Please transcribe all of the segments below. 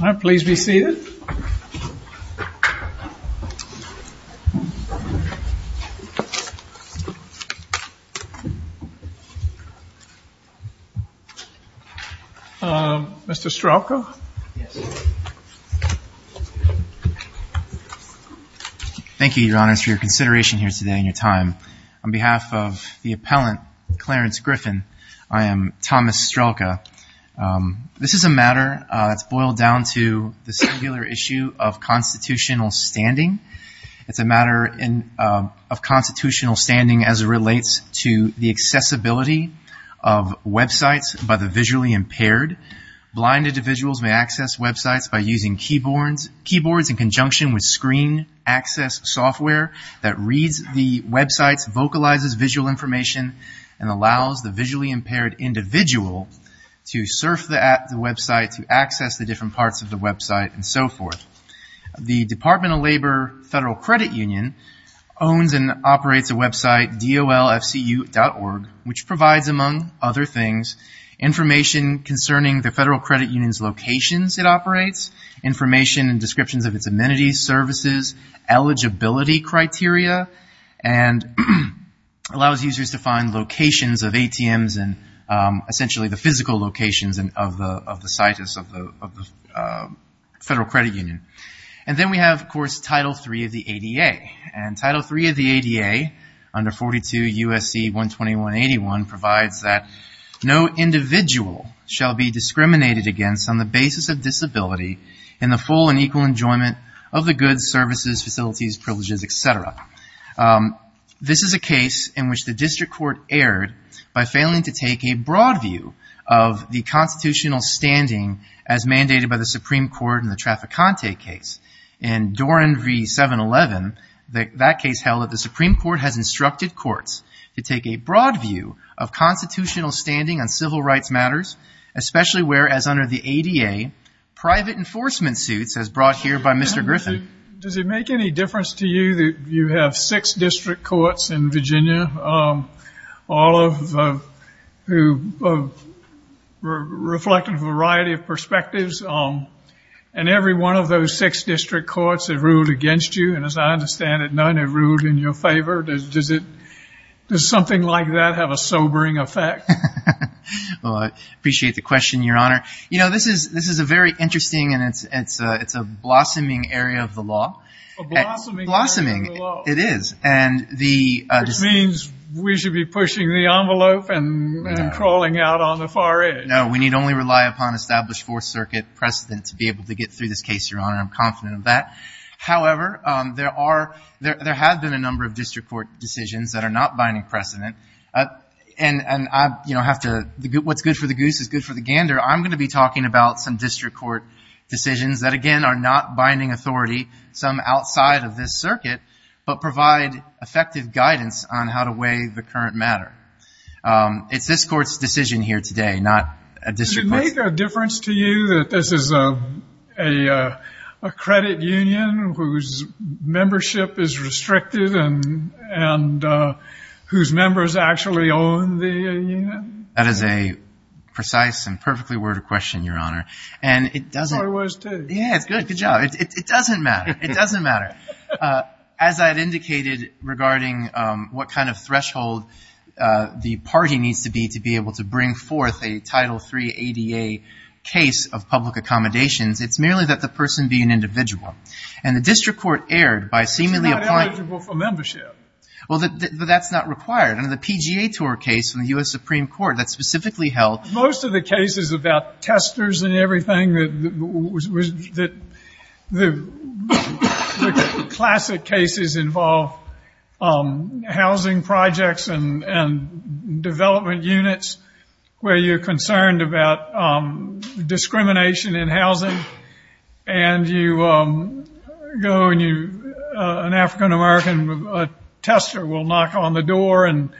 I'm pleased to be seated Mr. Stravko. Thank you your honor for your consideration here today in your time on behalf of the appellant Clarence Griffin. I am Thomas Stravko. This is a matter that's boiled down to the singular issue of constitutional standing. It's a matter of constitutional standing as it relates to the accessibility of websites by the visually impaired. Blind individuals may access websites by using keyboards in conjunction with screen access software that reads the websites, vocalizes visual information and allows the visually impaired individual to surf the app, the website, to access the different parts of the website and so forth. The Department of Labor Federal Credit Union owns and operates a website dolfcu.org which provides among other things information concerning the Federal Credit Union's locations it operates, information and descriptions of its amenities, services, eligibility criteria and allows users to find locations of ATMs and essentially the physical locations of the site of the Federal Credit Union. And then we have of course Title III of the ADA and Title III of the ADA under 42 U.S.C. 12181 provides that no individual shall be discriminated against on the basis of services, facilities, privileges, etc. This is a case in which the district court erred by failing to take a broad view of the constitutional standing as mandated by the Supreme Court in the Traficante case. In Doran v. 711, that case held that the Supreme Court has instructed courts to take a broad view of constitutional standing on civil rights matters, especially whereas under the ADA private enforcement suits as brought here by Mr. Griffin. Does it make any difference to you that you have six district courts in Virginia, all of whom reflect a variety of perspectives and every one of those six district courts have ruled against you and as I understand it none have ruled in your favor? Does something like that have a sobering effect? Well, I appreciate the question, Your Honor. You know, this is a very concerning area of the law. A blossoming area of the law. It is. Which means we should be pushing the envelope and crawling out on the far edge. No, we need only rely upon established Fourth Circuit precedent to be able to get through this case, Your Honor. I'm confident of that. However, there have been a number of district court decisions that are not binding precedent. And what's good for the goose is good for the gander. I'm going to be talking about some district court decisions that, again, are not binding authority, some outside of this circuit, but provide effective guidance on how to weigh the current matter. It's this court's decision here today, not a district court's. Does it make a difference to you that this is a credit union whose membership is restricted and whose members actually own the union? That is a precise and perfectly worded question, Your Honor. And it doesn't. So it was, too. Yeah, it's good. Good job. It doesn't matter. It doesn't matter. As I've indicated regarding what kind of threshold the party needs to be to be able to bring forth a Title III ADA case of public accommodations, it's merely that the person be an individual. And the district court erred by seemingly applying It's not eligible for membership. Well, but that's not required. In the PGA tour case in the U.S. Supreme Court that's specifically held Most of the cases about testers and everything, the classic cases involve housing projects and development units where you're concerned about knock on the door and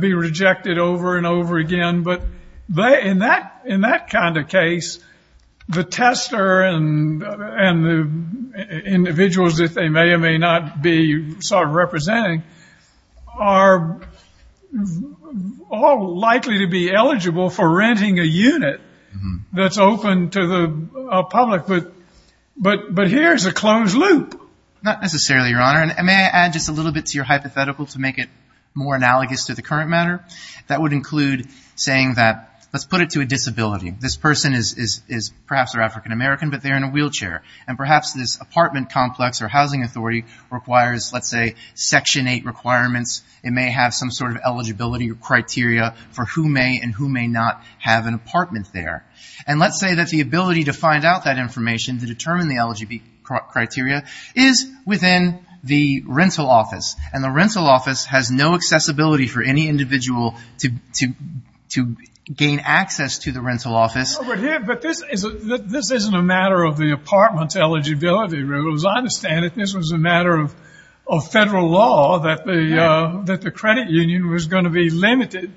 be rejected over and over again. But in that kind of case, the tester and the individuals that they may or may not be sort of representing are all likely to be eligible for renting a unit that's open to the public. But here's a closed loop. Not necessarily, Your Honor. And may I add just a little bit to your hypothetical to make it more analogous to the current matter? That would include saying that, let's put it to a disability. This person is perhaps African-American, but they're in a wheelchair. And perhaps this apartment complex or housing authority requires, let's say, Section 8 requirements. It may have some sort of eligibility or criteria for who may and who may not have an apartment there. And let's say that the ability to find out that within the rental office. And the rental office has no accessibility for any individual to gain access to the rental office. But this isn't a matter of the apartment's eligibility rules. I understand that this was a matter of federal law that the credit union was going to be limited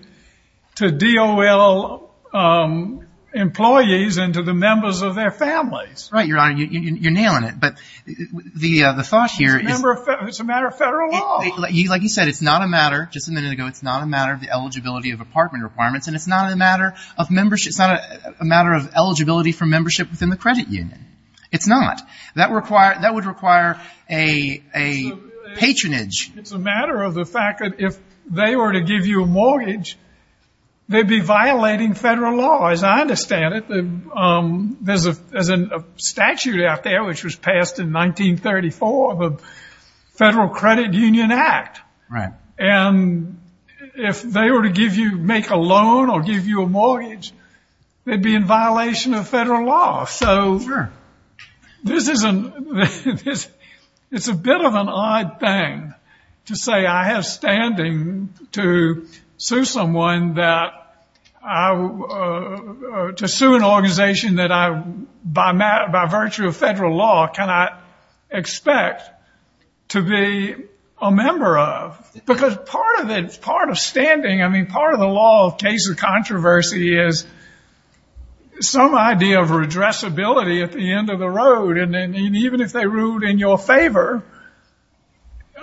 to DOL employees and to the members of their families. Right, Your Honor. You're nailing it. But the thought here is... It's a matter of federal law. Like you said, it's not a matter, just a minute ago, it's not a matter of the eligibility of apartment requirements. And it's not a matter of membership. It's not a matter of eligibility for membership within the credit union. It's not. That would require a patronage. It's a matter of the fact that if they were to give you a mortgage, they'd be in violation of the statute out there, which was passed in 1934, the Federal Credit Union Act. And if they were to make a loan or give you a mortgage, they'd be in violation of federal law. So it's a bit of an odd thing to say I mean, by virtue of federal law, cannot expect to be a member of. Because part of it, part of standing, I mean, part of the law of case of controversy is some idea of redressability at the end of the road. And even if they ruled in your favor,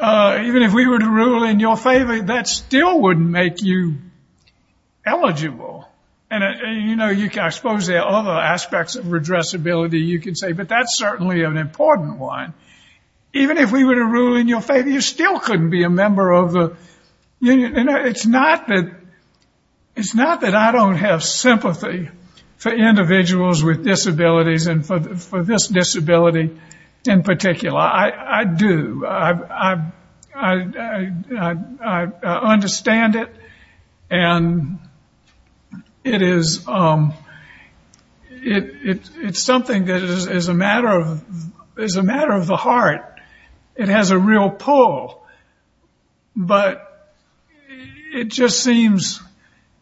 even if we were to rule in your favor, that still wouldn't make you eligible. And, you know, I suppose there are other aspects of redressability you could say, but that's certainly an important one. Even if we were to rule in your favor, you still couldn't be a member of the union. And it's not that I don't have sympathy for individuals with disabilities and for this disability in particular. I do. I understand it. And it's something that is a matter of the heart. It has a real pull. But it just seems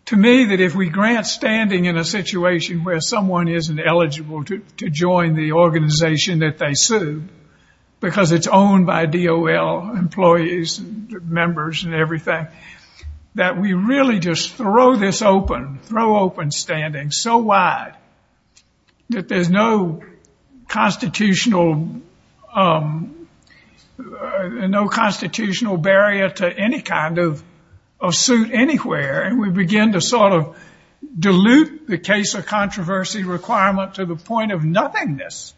to me that if we grant standing in a situation where someone isn't eligible to join the organization that they sued, because it's owned by DOL employees, members and everything, that we really just throw this open, throw open standing so wide that there's no constitutional barrier to any kind of suit anywhere. And we begin to sort of dilute the case of controversy requirement to the point of nothingness.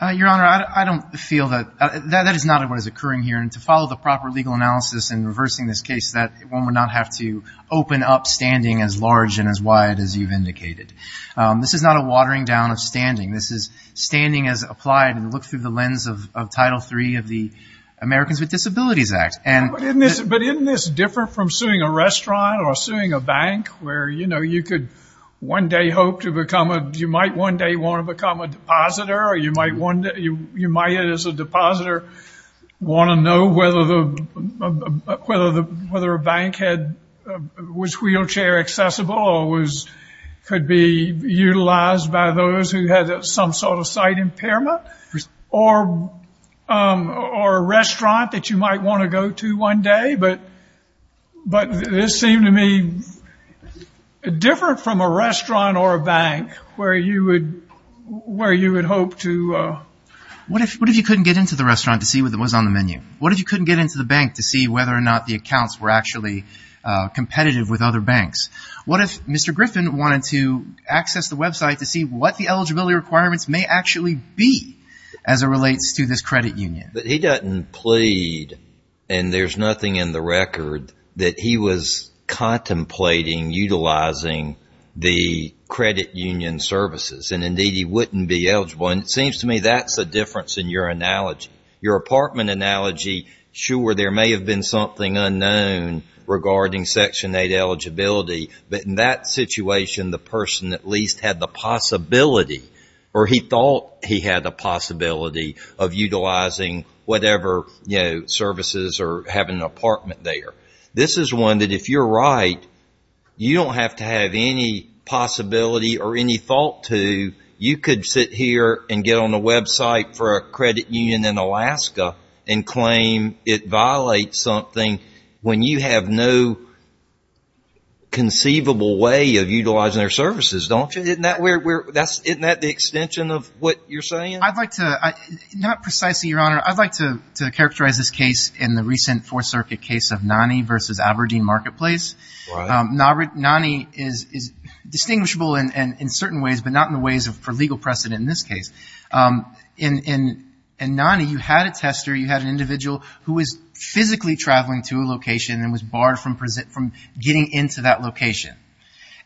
Your Honor, I don't feel that. That is not what is occurring here. And to follow the proper legal analysis in reversing this case, that one would not have to open up standing as large and as wide as you've This is not a watering down of standing. This is standing as applied and looked through the lens of Title III of the Americans with Disabilities Act. But isn't this different from suing a restaurant or suing a bank where, you know, you could one day hope to become a, you might one day want to become a depositor, or you might one day, you might as a depositor want to know whether a bank was wheelchair accessible or could be utilized by those who had some sort of sight impairment, or a restaurant that you might want to go to one day. But this seemed to me different from a restaurant or a bank where you would hope to What if you couldn't get into the restaurant to see what was on the menu? What if you couldn't get into the bank to see whether or not the accounts were actually competitive with other banks? What if Mr. Griffin wanted to access the website to see what the eligibility requirements may actually be as it relates to this credit union? But he doesn't plead, and there's nothing in the record, that he was contemplating utilizing the credit union services. And indeed, he wouldn't be eligible. And it seems to me that's the difference in your analogy. Your apartment analogy, sure, there may have been something unknown regarding Section 8 eligibility, but in that situation, the person at least had the possibility, or he thought he had a possibility of utilizing whatever, you know, services or having an apartment there. This is one that if you're right, you don't have to have any possibility or any thought to, you could sit here and get on a website for a credit union in Alaska and claim it violates something when you have no conceivable way of utilizing their services, don't you? Isn't that the extension of what you're saying? I'd like to, not precisely, Your Honor, I'd like to characterize this case in the recent Fourth Circuit case of Nonnie versus Aberdeen Marketplace. Nonnie is the precedent in this case. In Nonnie, you had a tester, you had an individual who was physically traveling to a location and was barred from getting into that location.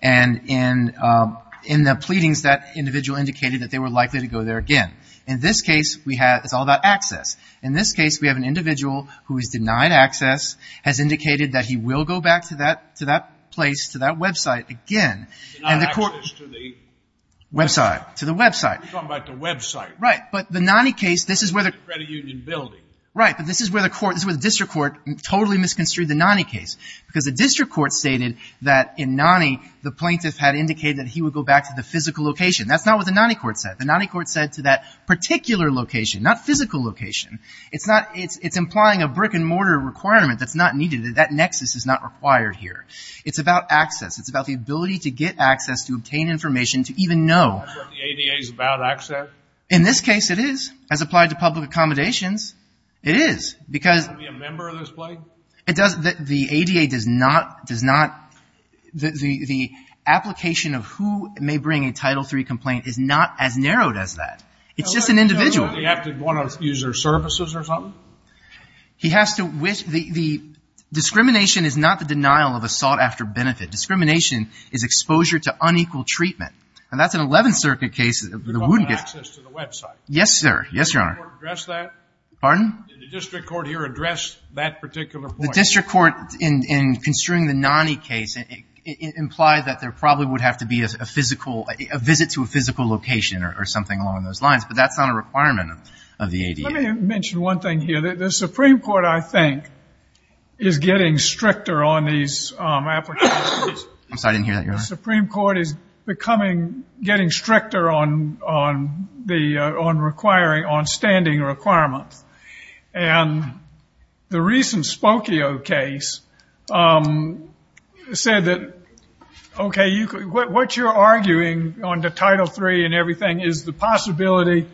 And in the pleadings, that individual indicated that they were likely to go there again. In this case, it's all about access. In this case, we have an individual who is denied access, has indicated that he will go back to that place, to that website again. Denied access to the website. Website. To the website. You're talking about the website. Right. But the Nonnie case, this is where the Credit Union building. Right. But this is where the court, this is where the district court totally misconstrued the Nonnie case. Because the district court stated that in Nonnie, the plaintiff had indicated that he would go back to the physical location. That's not what the Nonnie court said. The Nonnie court said to that particular location, not physical location. It's not, it's implying a brick and mortar requirement that's not needed. That nexus is not required here. It's about access. It's about the ability to get access, to obtain information, to even know. Is that what the ADA is about, access? In this case, it is. As applied to public accommodations, it is. Because Does he have to be a member of this plaintiff? It does. The ADA does not, does not, the application of who may bring a Title III complaint is not as narrowed as that. It's just an individual. Does he have to want to use their services or something? He has to, the discrimination is not the denial of a sought-after benefit. Discrimination is exposure to unequal treatment. And that's an 11th Circuit case, the wound gets You don't have access to the website. Yes, sir. Yes, Your Honor. Did the district court address that? Pardon? Did the district court here address that particular point? The district court, in construing the Nonnie case, implied that there probably would have to be a physical, a visit to a physical location or something along those lines. But that's not a requirement of the ADA. Let me mention one thing here. The Supreme Court, I think, is getting stricter on these applications. I'm sorry, I didn't hear that, Your Honor. The Supreme Court is becoming, getting stricter on the, on requiring, on standing requirements. And the recent Spokio case said that, okay, what you're arguing on the Title III and everything is the possibility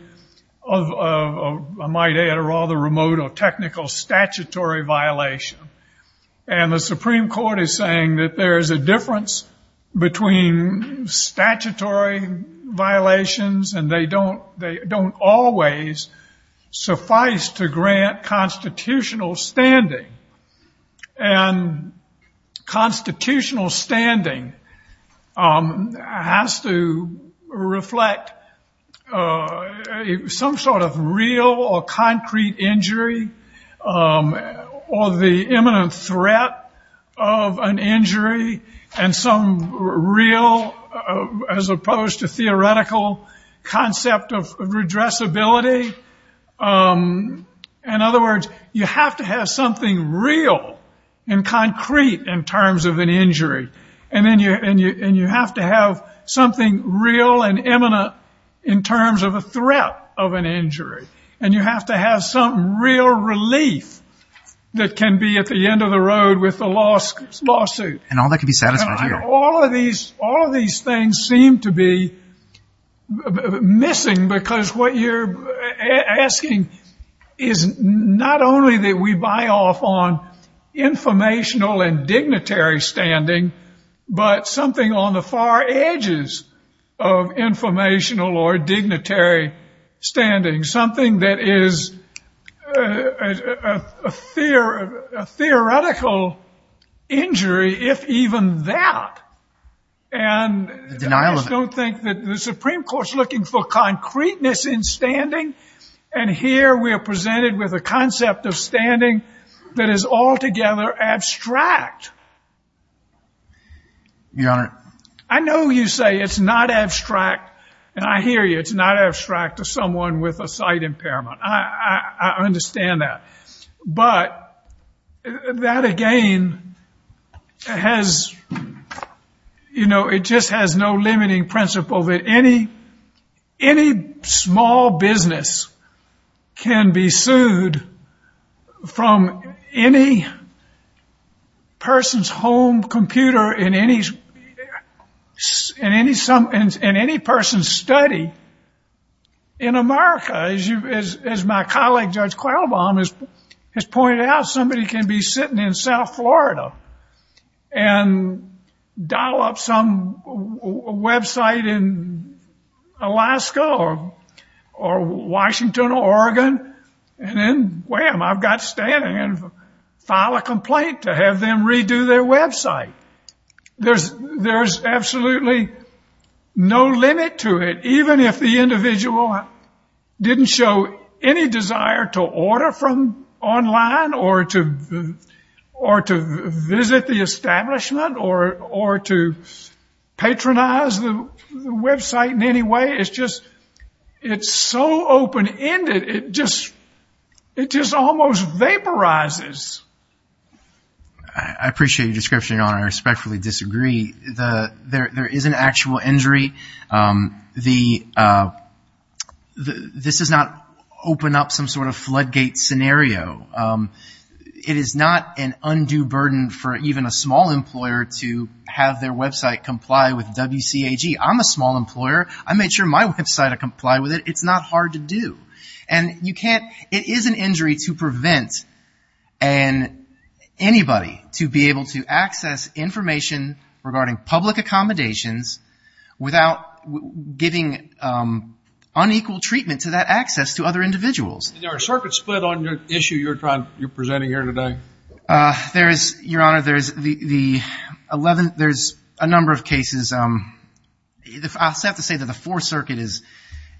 of, I might add, a rather remote or technical statutory violation. And the Supreme Court is saying that there is a difference between statutory violations and they don't, they don't always suffice to grant constitutional standing. And constitutional standing has to reflect some sort of real or concrete injury or the imminent threat of an injury. And some real, as opposed to theoretical concept of redressability. In other words, you have to have something real and concrete in terms of an injury. And then you, and you, and you have to have something real and imminent in terms of a threat of an injury. And you have to have some real relief that can be at the end of the road with the lawsuit. And all that could be satisfied here. All of these, all of these things seem to be missing because what you're asking is not only that we buy off on informational and dignitary standing, but something on the far edges of informational or dignitary standing. Something that is a theoretical injury, if even that. And I just don't think that the Supreme Court's looking for concreteness in standing. And here we are presented with a concept of standing that is altogether abstract. Your Honor. I know you say it's not abstract and I hear you. It's not abstract to someone with a sight impairment. I understand that. But that again has, you know, it is critical that any, any small business can be sued from any person's home computer in any, in any, in any person's study in America. As you, as my colleague Judge Qualbaum has pointed out, somebody can be sitting in South Alaska or Washington or Oregon and then, wham, I've got standing and file a complaint to have them redo their website. There's, there's absolutely no limit to it. Even if the individual didn't show any desire to order from the website in any way, it's just, it's so open-ended. It just, it just almost vaporizes. I appreciate your description, Your Honor. I respectfully disagree. The, there, there is an actual injury. The, this does not open up some sort of floodgate scenario. It is not an undue burden for even a small employer to have their website comply with WCAG. I'm a small employer. I made sure my website would comply with it. It's not hard to do. And you can't, it is an injury to prevent an, anybody to be able to access information regarding public accommodations without giving unequal treatment to that access to other individuals. Is there a circuit split on the issue you're trying, you're presenting here today? There is, Your Honor, there's the, the 11th, there's a number of cases. I have to say that the Fourth Circuit is,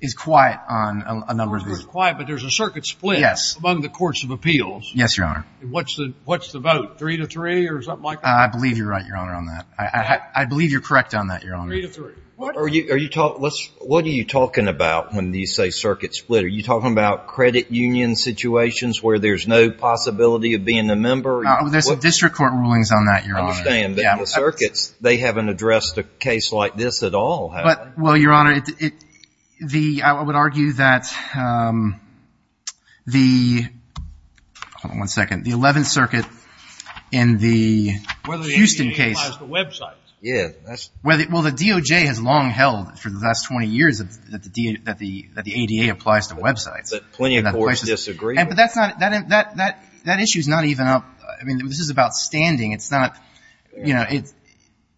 is quiet on a number of these. It's quiet, but there's a circuit split among the courts of appeals. Yes, Your Honor. And what's the, what's the vote? Three to three or something like that? I believe you're right, Your Honor, on that. I, I, I believe you're correct on that, Your Honor. Three to three. What are you, are you talking, what's, what are you talking about when you say circuit split? Are you talking about credit union situations where there's no possibility of being a member? No, there's district court rulings on that, Your Honor. I understand, but the circuits, they haven't addressed a case like this at all, have they? Well, Your Honor, it, it, the, I would argue that the, hold on one second, the 11th Circuit in the Houston case. Whether the ADA applies to websites. Yeah, that's. Whether, well, the DOJ has long held for the last 20 years that the, that the, that the ADA applies to websites. That plenty of courts disagree. And, but that's not, that, that, that, that issue's not even up, I mean, this is about standing. It's not, you know, it's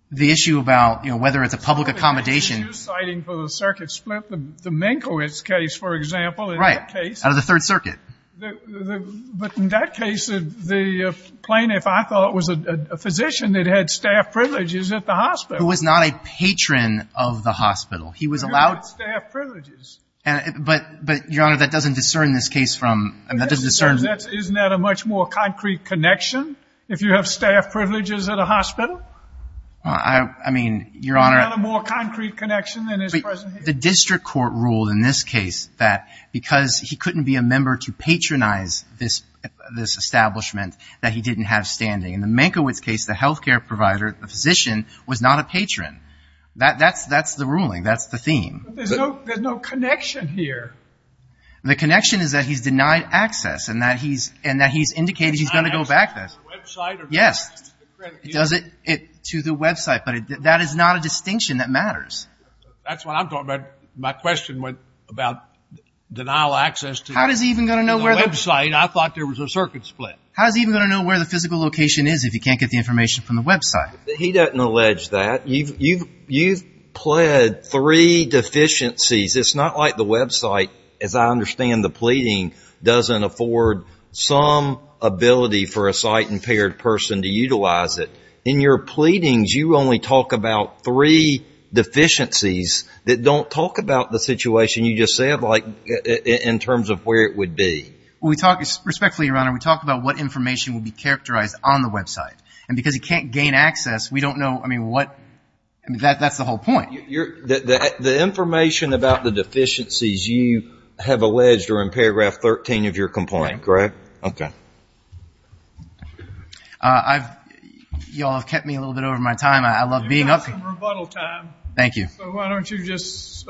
the issue about, you know, whether it's a public accommodation. You're citing for the circuit split the Minkowitz case, for example, in that case. Out of the Third Circuit. The, the, the, but in that case, the, the plaintiff, I thought, was a, a physician that had staff privileges at the hospital. Who was not a patron of the hospital. He was allowed. He had staff privileges. And, but, but Your Honor, that doesn't discern this case from, that doesn't discern. That's, isn't that a much more concrete connection? If you have staff privileges at a hospital? I, I mean, Your Honor. Isn't that a more concrete connection than is present here? The district court ruled in this case that because he couldn't be a member to patronize this, this establishment that he didn't have standing. In the Minkowitz case, the healthcare provider, the physician was not a patron. That, that's, that's the ruling. That's the theme. But there's no, there's no connection here. The connection is that he's denied access and that he's, and that he's indicated he's going to go back there. Is he denied access to the website or to the credit union? Yes. Does it, it, to the website. But that is not a distinction that matters. That's what I'm talking about. My question went about denial of access to the website. How is he even going to know where the... I thought there was a circuit split. How is he even going to know where the physical location is if he can't get the information from the website? He doesn't allege that. You've, you've, you've pled three deficiencies. It's not like the website, as I understand the pleading, doesn't afford some ability for a sight impaired person to utilize it. In your pleadings, you only talk about three deficiencies that don't talk about the situation you just said, like in terms of where it would be. Well, we talk, respectfully, Your Honor, we talk about what information will be characterized on the website. And because he can't gain access, we don't know, I mean, what, I mean, that, that's the whole point. You're, the, the, the information about the deficiencies you have alleged are in paragraph 13 of your complaint, correct? Okay. I've, y'all have kept me a little bit over my time. I love being up here. You've got some rebuttal time. Thank you. So why don't you just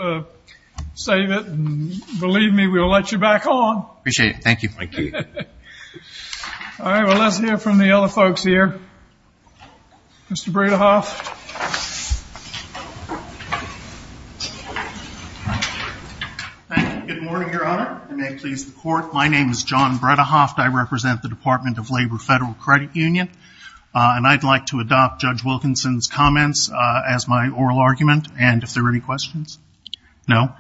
save it and believe me, we'll let you back on. Appreciate it. Thank you. Thank you. All right. Well, let's hear from the other folks here. Mr. Bredehoft. Thank you. Good morning, Your Honor. And may it please the court. My name is John Bredehoft. I represent the Department of Labor, Federal Credit Union. And I'd like to adopt Judge Wilkinson's comments as my oral argument. And if there are any questions? No.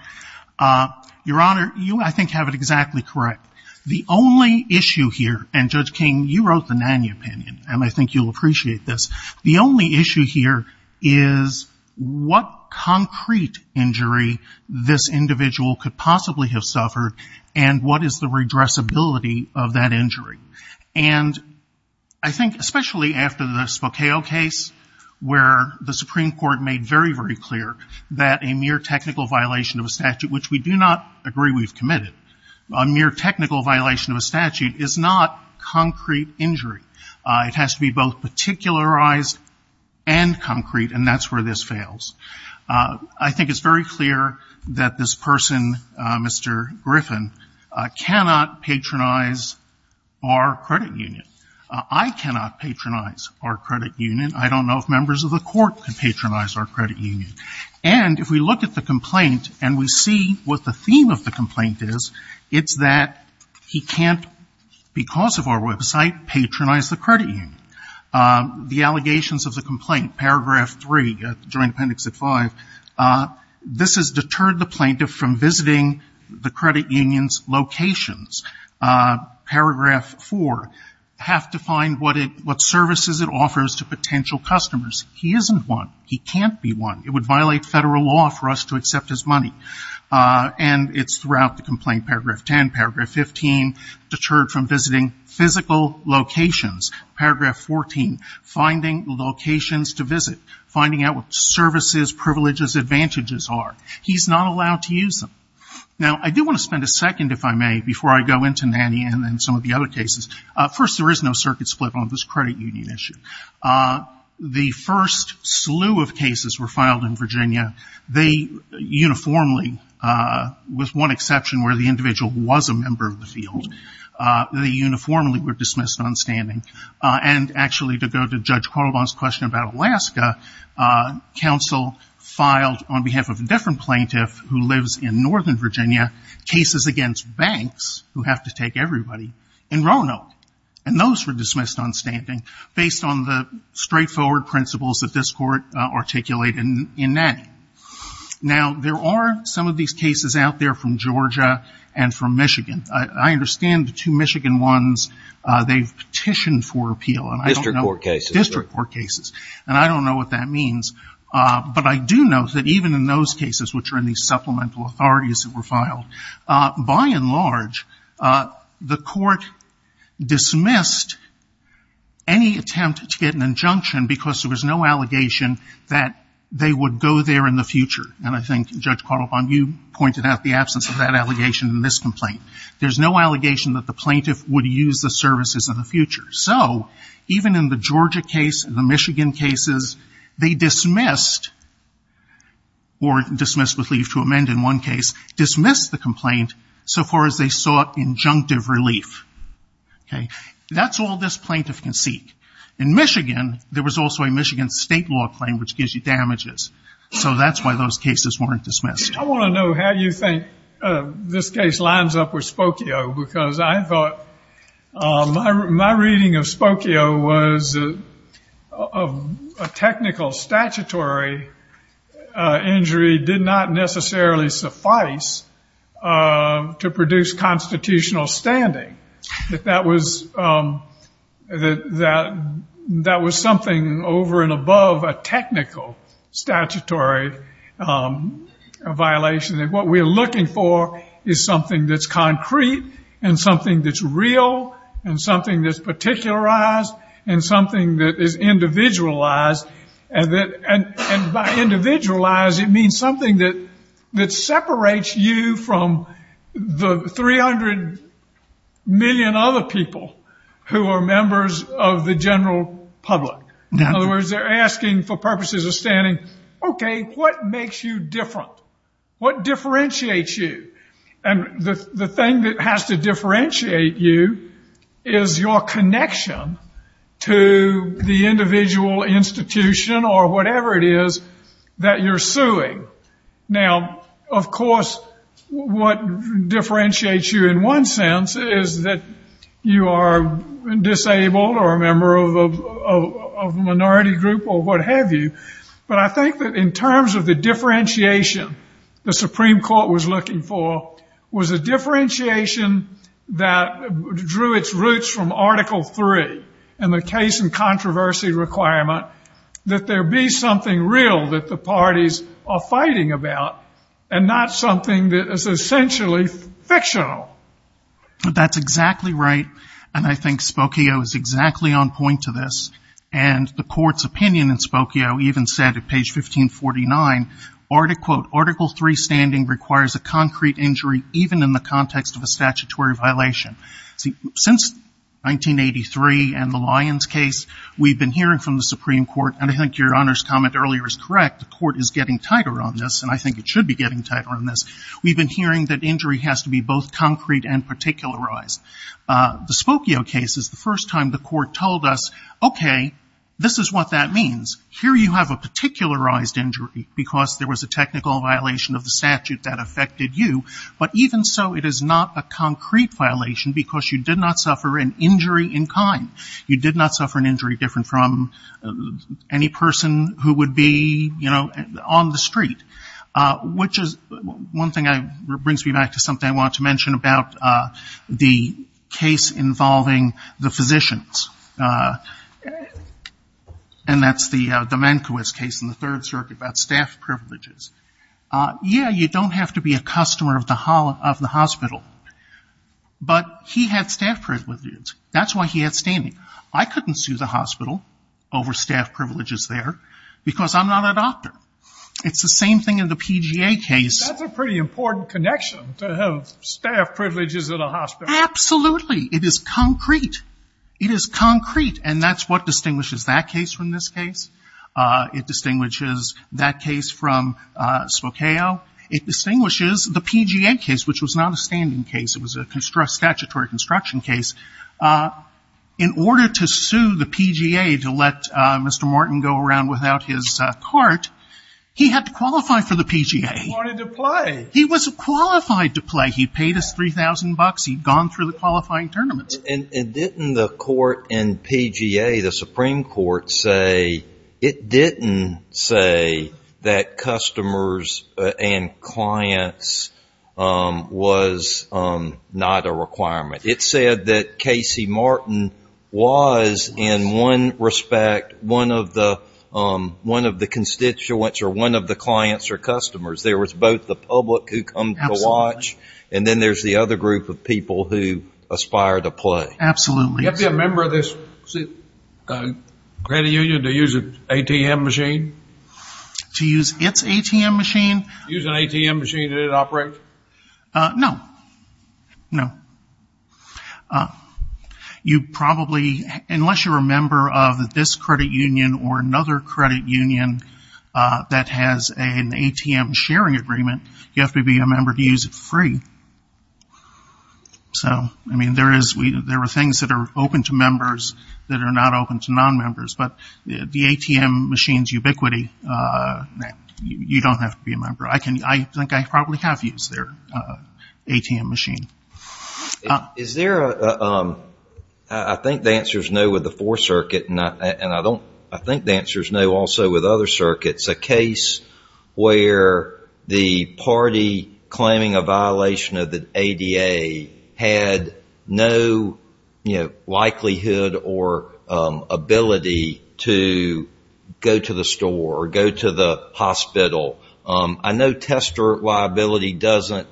Your Honor, you, I think, have it exactly correct. The only issue here, and Judge King, you wrote the Nany opinion, and I think you'll appreciate this, the only issue here is what concrete injury this individual could possibly have suffered. And what is the redressability of that injury? And I think, especially after the Spokale case, where the Supreme Court made very, very clear that a mere technical violation of a statute, which we do not agree we've committed, a mere technical violation of a statute is not concrete injury. It has to be both particularized and concrete, and that's where this fails. I think it's very clear that this person, Mr. Griffin, cannot patronize our credit union. I cannot patronize our credit union. I don't know if members of the court can patronize our credit union. And if we look at the complaint and we see what the theme of the complaint is, it's that he can't, because of our website, patronize the credit union. The allegations of the complaint, paragraph three, joint appendix at five, this has deterred the plaintiff from visiting the credit union's locations. Paragraph four, have to find what services it offers to potential customers. He isn't one. He can't be one. It would violate federal law for us to accept his money. And it's throughout the complaint, paragraph 10, paragraph 15, deterred from visiting physical locations. Paragraph 14, finding locations to visit, finding out what services, privileges, advantages are. He's not allowed to use them. Now, I do want to spend a second, if I may, before I go into Nannie and some of the other cases, first, there is no circuit split on this credit union issue. The first slew of cases were filed in Virginia. They uniformly, with one exception where the individual was a member of the field, they uniformly were dismissed on standing. And actually, to go to Judge Quarlebon's question about Alaska, counsel filed, on behalf of a different plaintiff who lives in northern Virginia, cases against banks, who have to take everybody, in Roanoke. And those were dismissed on standing, based on the straightforward principles that this court articulated in Nannie. Now, there are some of these cases out there from Georgia and from Michigan. I understand the two Michigan ones, they've petitioned for appeal. And I don't know. District court cases. District court cases. And I don't know what that means. But I do know that even in those cases, which are in these supplemental authorities that were filed, by and large, the court dismissed any attempt to get an injunction because there was no allegation that they would go there in the future. And I think Judge Quarlebon, you pointed out the absence of that allegation in this complaint. There's no allegation that the plaintiff would use the services in the future. So, even in the Georgia case, the Michigan cases, they dismissed, or dismissed with leave to amend in one case, dismissed the complaint so far as they sought injunctive relief. Okay. That's all this plaintiff can seek. In Michigan, there was also a Michigan state law claim, which gives you damages. So that's why those cases weren't dismissed. I want to know how you think this case lines up with Spokio, because I thought, my reading of Spokio was a technical statutory injury did not necessarily suffice to produce constitutional standing. That was something over and above a technical statutory violation. And what we're looking for is something that's concrete and something that's real and something that's particularized and something that is individualized. And by individualized, it means something that separates you from the 300 million other people who are members of the general public. In other words, they're asking for purposes of standing. Okay. What makes you different? What differentiates you? And the thing that has to differentiate you is your connection to the individual institution or whatever it is that you're suing. Now, of course, what differentiates you in one sense is that you are disabled or a member of a minority group or what have you, but I think that in terms of the differentiation the Supreme Court was looking for was a differentiation that drew its roots from Article III and the case and controversy requirement that there be something real that the parties are fighting about and not something that is essentially fictional. That's exactly right. And I think Spokio is exactly on point to this. And the court's opinion in Spokio even said at page 1549, article three standing requires a concrete injury, even in the context of a statutory violation. See, since 1983 and the Lyons case, we've been hearing from the Supreme Court and I think your Honor's comment earlier is correct, the court is getting tighter on this and I think it should be getting tighter on this, we've been hearing that injury has to be both concrete and particularized. The Spokio case is the first time the court told us, okay, this is what that means, here you have a particularized injury because there was a technical violation of the statute that affected you, but even so it is not a concrete violation because you did not suffer an injury in kind, you did not suffer an injury different from any person who would be, you know, on the street, which is, one thing brings me back to something I wanted to mention about the case involving the physicians, and that's the Domenkiewicz case in the Third Circuit about staff privileges. Yeah, you don't have to be a customer of the hospital. But he had staff privileges, that's why he had standing. I couldn't sue the hospital over staff privileges there because I'm not a doctor. It's the same thing in the PGA case. That's a pretty important connection to have staff privileges at a hospital. Absolutely. It is concrete, it is concrete and that's what distinguishes that case from this case, it distinguishes that case from Spokio, it distinguishes the PGA case, which was not a standing case, it was a statutory construction case. In order to sue the PGA to let Mr. Morton go around without his cart, he had to qualify for the PGA. He wanted to play. He was qualified to play. He paid us $3,000, he'd gone through the qualifying tournament. And didn't the court in PGA, the Supreme Court say, it didn't say that was not a requirement? It said that Casey Morton was, in one respect, one of the constituents or one of the clients or customers. There was both the public who come to watch and then there's the other group of people who aspire to play. Absolutely. You have to be a member of this credit union to use an ATM machine? To use its ATM machine? Use an ATM machine that it operates? No. No. You probably, unless you're a member of this credit union or another credit union that has an ATM sharing agreement, you have to be a member to use it free. So, I mean, there are things that are open to members that are not open to non-members, but the ATM machine's ubiquity, you don't have to be a member. I think I probably have used their ATM machine. Is there a, I think the answer's no with the Fourth Circuit and I think the answer's no also with other circuits. A case where the party claiming a violation of the ADA had no likelihood or ability to go to the store or go to the hospital. I know tester liability doesn't,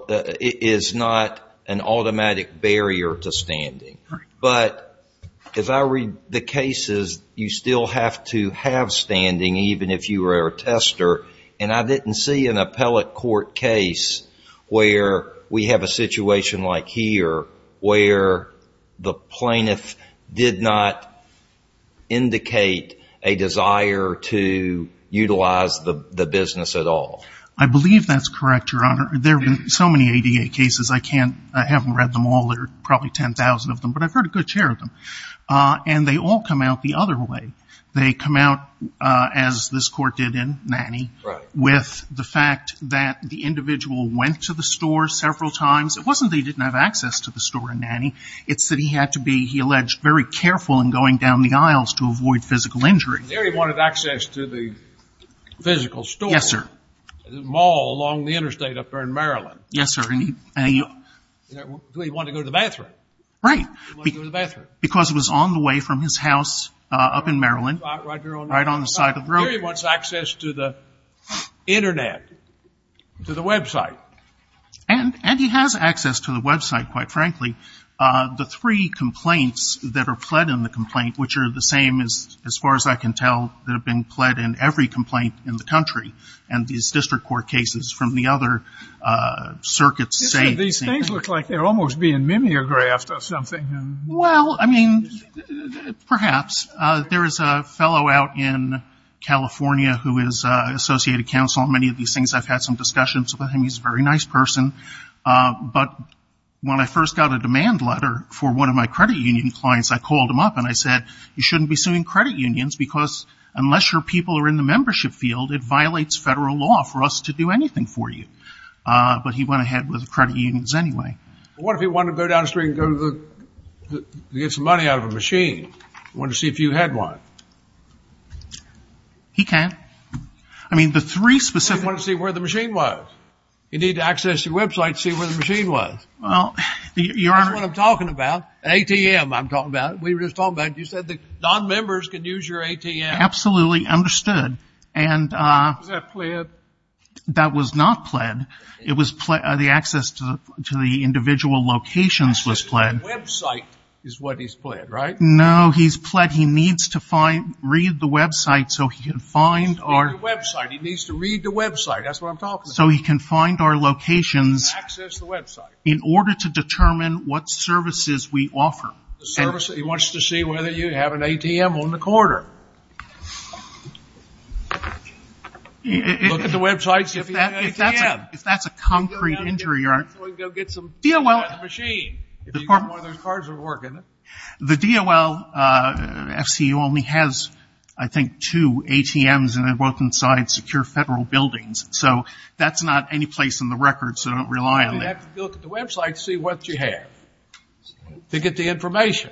is not an automatic barrier to standing, but as I read the cases, you still have to have standing even if you were a tester and I didn't see an appellate court case where we have a situation like here where the plaintiff did not indicate a desire to utilize the business at all. I believe that's correct, Your Honor. There have been so many ADA cases. I can't, I haven't read them all. There are probably 10,000 of them, but I've heard a good share of them and they all come out the other way. They come out as this court did in Nannie with the fact that the individual went to the store several times. It wasn't that he didn't have access to the store in Nannie. It's that he had to be, he alleged, very careful in going down the aisles to avoid physical injury. And there he wanted access to the physical store. Yes, sir. The mall along the interstate up there in Maryland. Yes, sir. And he, and he. Well, he wanted to go to the bathroom. Right. He wanted to go to the bathroom. Because it was on the way from his house up in Maryland, right on the side of the road. There he wants access to the internet, to the website. And, and he has access to the website, quite frankly. The three complaints that are pled in the complaint, which are the same as, as far as I can tell, that have been pled in every complaint in the country and these district court cases from the other circuits say. These things look like they're almost being mimeographed or something. Well, I mean, perhaps. There is a fellow out in California who is an associated counsel on many of these things. I've had some discussions with him. He's a very nice person. But when I first got a demand letter for one of my credit union clients, I called him up and I said, you shouldn't be suing credit unions because unless your people are in the membership field, it violates federal law for us to do anything for you. But he went ahead with the credit unions anyway. What if he wanted to go down the street and go to the, get some money out of a machine, wanted to see if you had one. He can't. I mean, the three specific... He wanted to see where the machine was. You need to access your website to see where the machine was. Well, you are... That's what I'm talking about. ATM, I'm talking about. We were just talking about, you said that non-members can use your ATM. Absolutely understood. And... Was that pled? That was not pled. It was pled, the access to the individual locations was pled. Website is what he's pled, right? No, he's pled. He needs to find, read the website so he can find our... He needs to read the website. He needs to read the website. That's what I'm talking about. So he can find our locations in order to determine what services we offer. The service, he wants to see whether you have an ATM on the corridor. Look at the websites if you have an ATM. If that's a concrete injury or... So he can go get some... DOL... Machine, if you've got one of those cards that work, isn't it? The DOL FCU only has, I think, two ATMs and they're both inside secure federal buildings. So that's not any place in the record. So don't rely on it. You have to look at the website to see what you have. To get the information.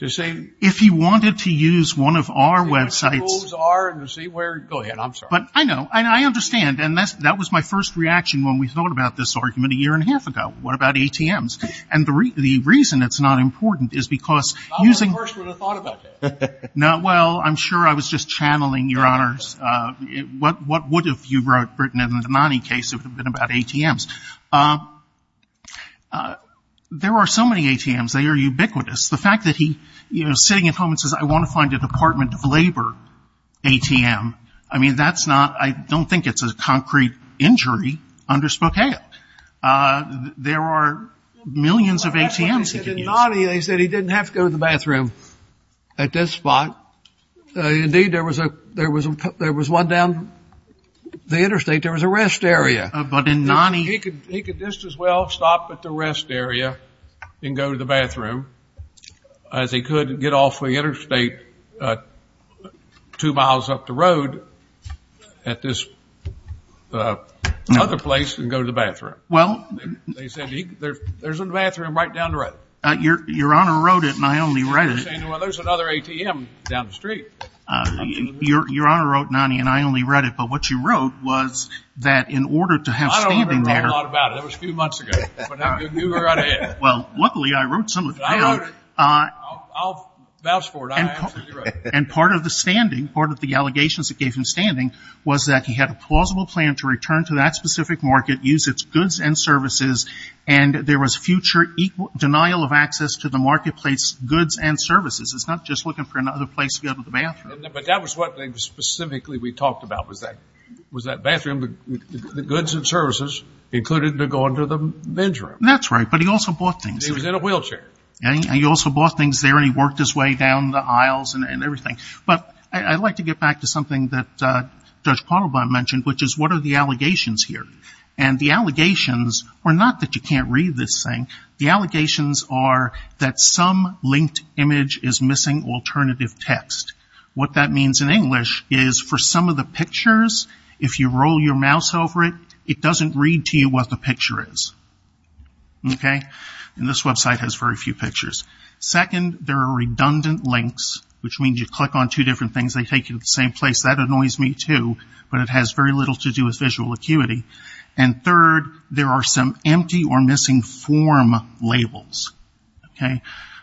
To see... If he wanted to use one of our websites... To see where schools are and to see where... Go ahead, I'm sorry. But I know, I understand. And that was my first reaction when we thought about this argument a year and a half ago. What about ATMs? And the reason it's not important is because using... I was the first one who thought about that. Not well. I'm sure I was just channeling, Your Honors. What would have you wrote, Britton, in the Denani case if it had been about ATMs? There are so many ATMs. They are ubiquitous. The fact that he, you know, sitting at home and says, I want to find a Department of Labor ATM. I mean, that's not... I don't think it's a concrete injury under Spokane. There are millions of ATMs. But that's what he said in Nani. He said he didn't have to go to the bathroom at this spot. Indeed, there was one down the interstate. There was a rest area. But in Nani... He could just as well stop at the rest area and go to the bathroom as he could get off of the interstate two miles up the road at this other place and go to the bathroom. Well, they said there's a bathroom right down the road. Your Honor wrote it and I only read it. Well, there's another ATM down the street. Your Honor wrote Nani and I only read it. But what you wrote was that in order to have standing there... I don't remember talking a lot about it. It was a few months ago. Well, luckily I wrote some of it down. I'll vouch for it. I absolutely wrote it. And part of the standing, part of the allegations that gave him standing was that he had a plausible plan to return to that specific market, use its goods and services, and there was future denial of access to the marketplace goods and services. It's not just looking for another place to go to the bathroom. But that was what specifically we talked about was that bathroom, the goods and services included to go into the men's room. That's right. But he also bought things. He was in a wheelchair. And he also bought things there and he worked his way down the aisles and everything. But I'd like to get back to something that Judge Parabon mentioned, which is what are the allegations here? And the allegations are not that you can't read this thing. The allegations are that some linked image is missing alternative text. What that means in English is for some of the pictures, if you roll your mouse over it, it doesn't read to you what the picture is. Okay? And this website has very few pictures. Second, there are redundant links, which means you click on two different things, they take you to the same place. That annoys me too, but it has very little to do with visual acuity. And third, there are some empty or missing form labels. Okay?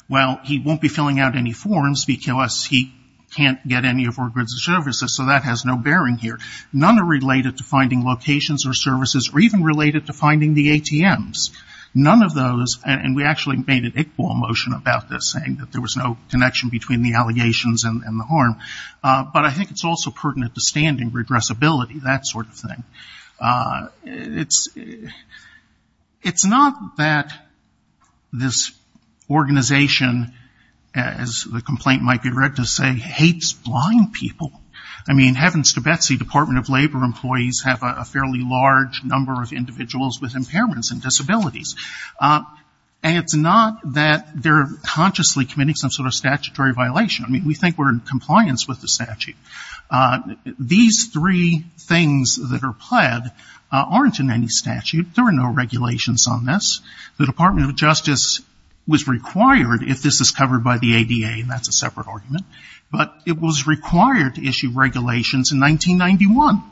Well, he won't be filling out any forms because he can't get any of our goods and services, so that has no bearing here. None are related to finding locations or services or even related to finding the ATMs. None of those, and we actually made an Iqbal motion about this saying that there was no connection between the allegations and the harm. But I think it's also pertinent to standing redressability, that sort of thing. It's not that this organization, as the complaint might be read to say, hates blind people. I mean, heavens to Betsy, Department of Labor employees have a fairly large number of individuals with impairments and disabilities. And it's not that they're consciously committing some sort of statutory violation. I mean, we think we're in compliance with the statute. These three things that are pled aren't in any statute. There are no regulations on this. The Department of Justice was required, if this is covered by the ADA, and that's a separate argument, but it was required to issue regulations in 1991.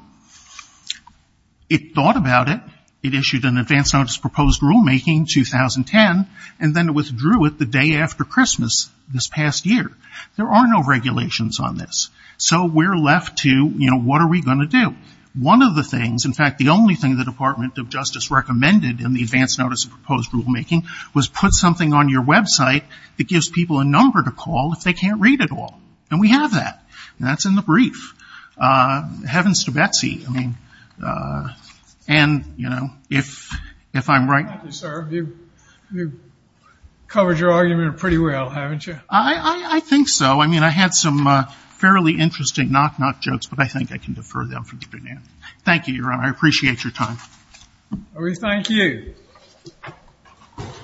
It thought about it. It issued an advance notice of proposed rulemaking in 2010, and then it withdrew it the day after Christmas this past year. There are no regulations on this. So we're left to, you know, what are we going to do? One of the things, in fact, the only thing the Department of Justice recommended in the advance notice of proposed rulemaking was put something on your website that gives people a number to call if they can't read it all. And we have that. And that's in the brief. Heavens to Betsy. I mean, and, you know, if I'm right. Thank you, sir. You've covered your argument pretty well, haven't you? I think so. I mean, I had some fairly interesting knock-knock jokes, but I think I can defer them for the beginning. Thank you, Your Honor. I appreciate your time. We thank you.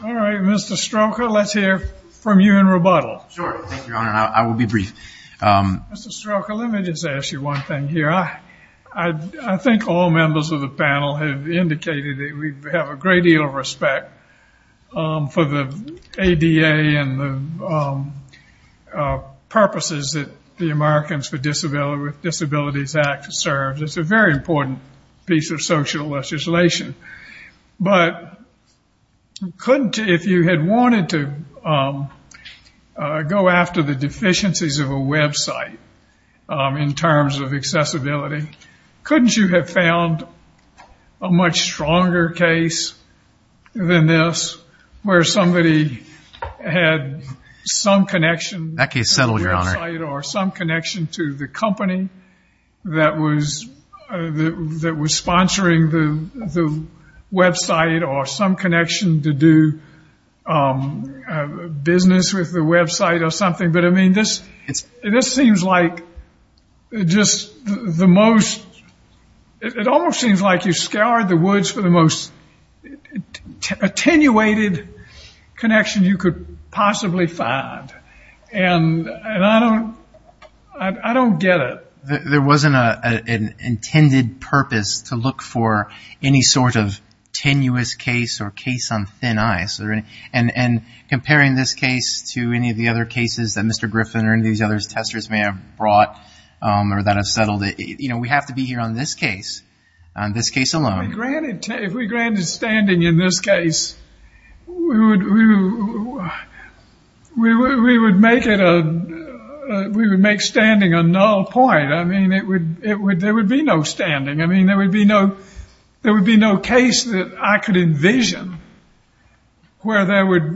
All right. Mr. Stroka, let's hear. From you in rebuttal. Sure. Thank you, Your Honor. I will be brief. Mr. Stroka, let me just ask you one thing here. I think all members of the panel have indicated that we have a great deal of respect for the ADA and the purposes that the Americans with Disabilities Act serves. It's a very important piece of social legislation. But if you had wanted to go after the deficiencies of a website in terms of accessibility, couldn't you have found a much stronger case than this where somebody had some connection to the website or some connection to the company that was sponsoring the website or some connection to do business with the website or something, but I mean, this seems like just the most, it almost seems like you scoured the woods for the most attenuated connection you could possibly find. And I don't get it. There wasn't an intended purpose to look for any sort of tenuous case or case on thin ice. And comparing this case to any of the other cases that Mr. Griffin or any of these other testers may have brought or that have settled it, you know, we have to be here on this case, on this case alone. If we granted standing in this case, we would make standing a null point. I mean, there would be no standing. I mean, there would be no case that I could envision where there would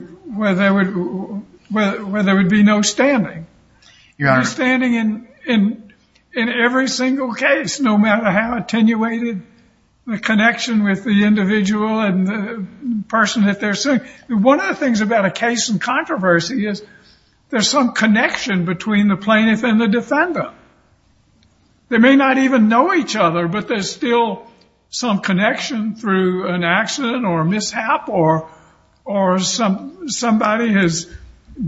be no standing. Standing in every single case, no matter how attenuated the connection with the individual and the person that they're suing, one of the things about a case in controversy is there's some connection between the plaintiff and the defendant. They may not even know each other, but there's still some connection through an accident or mishap or somebody has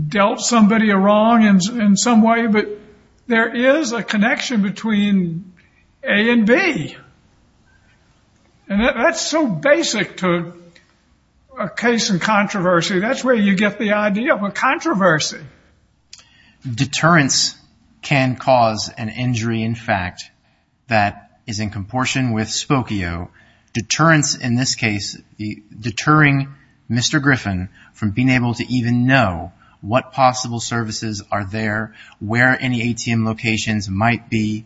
dealt somebody wrong in some way. But there is a connection between A and B. And that's so basic to a case in controversy. That's where you get the idea of a controversy. Deterrence can cause an injury, in fact, that is in comportion with spokio. Deterrence in this case, deterring Mr. Griffin from being able to even know what possible services are there, where any ATM locations might be,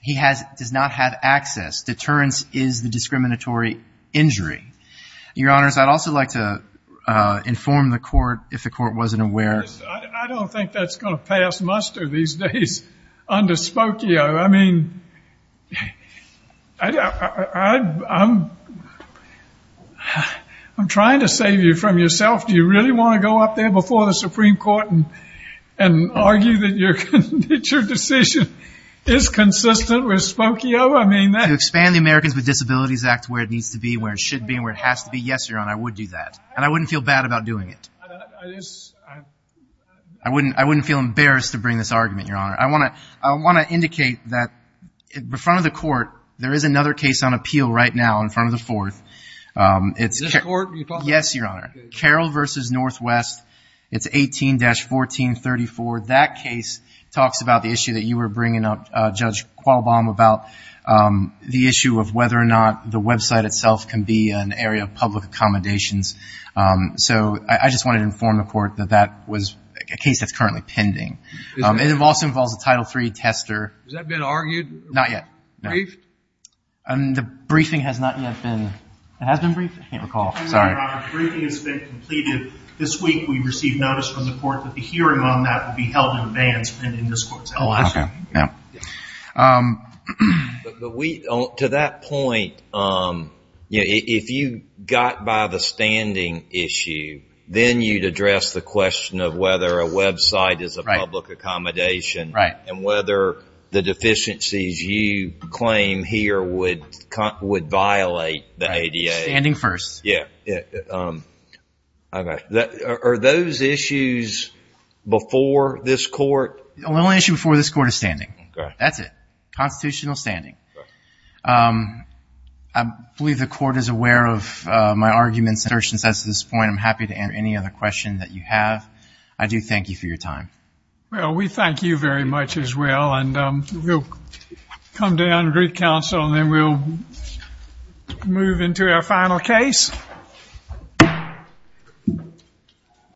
he does not have access. Deterrence is the discriminatory injury. Your Honors, I'd also like to inform the court, if the court wasn't aware. I don't think that's going to pass muster these days under spokio. I mean, I'm trying to save you from yourself. Do you really want to go up there before the Supreme Court and argue that your decision is consistent with spokio? I mean that. To expand the Americans with Disabilities Act where it needs to be, where it should be, where it has to be. Yes, Your Honor, I would do that. And I wouldn't feel bad about doing it. I wouldn't feel embarrassed to bring this argument, Your Honor. I want to, I want to indicate that in front of the court, there is another case on appeal right now in front of the fourth, it's Carol versus Northwest. It's 18-1434. That case talks about the issue that you were bringing up, Judge Qualbaum, about the issue of whether or not the website itself can be an area of public accommodations. So I just wanted to inform the court that that was a case that's currently pending. It also involves a Title III tester. Has that been argued? Not yet. Briefed? The briefing has not yet been, it has been briefed? I can't recall. Sorry. Your Honor, the briefing has been completed. This week we received notice from the court that the hearing on that would be held in advance and in this court's house. Okay. Yeah. But we, to that point, if you got by the standing issue, then you'd address the issue of whether or not the website itself can be an area of public accommodation. Right. And whether the deficiencies you claim here would violate the ADA. Standing first. Yeah. Okay. Are those issues before this court? The only issue before this court is standing. Okay. That's it. Constitutional standing. I believe the court is aware of my arguments and assertions to this point. I'm happy to answer any other question that you have. I do thank you for your time. Well, we thank you very much as well. And we'll come down, greet counsel, and then we'll move into our final case.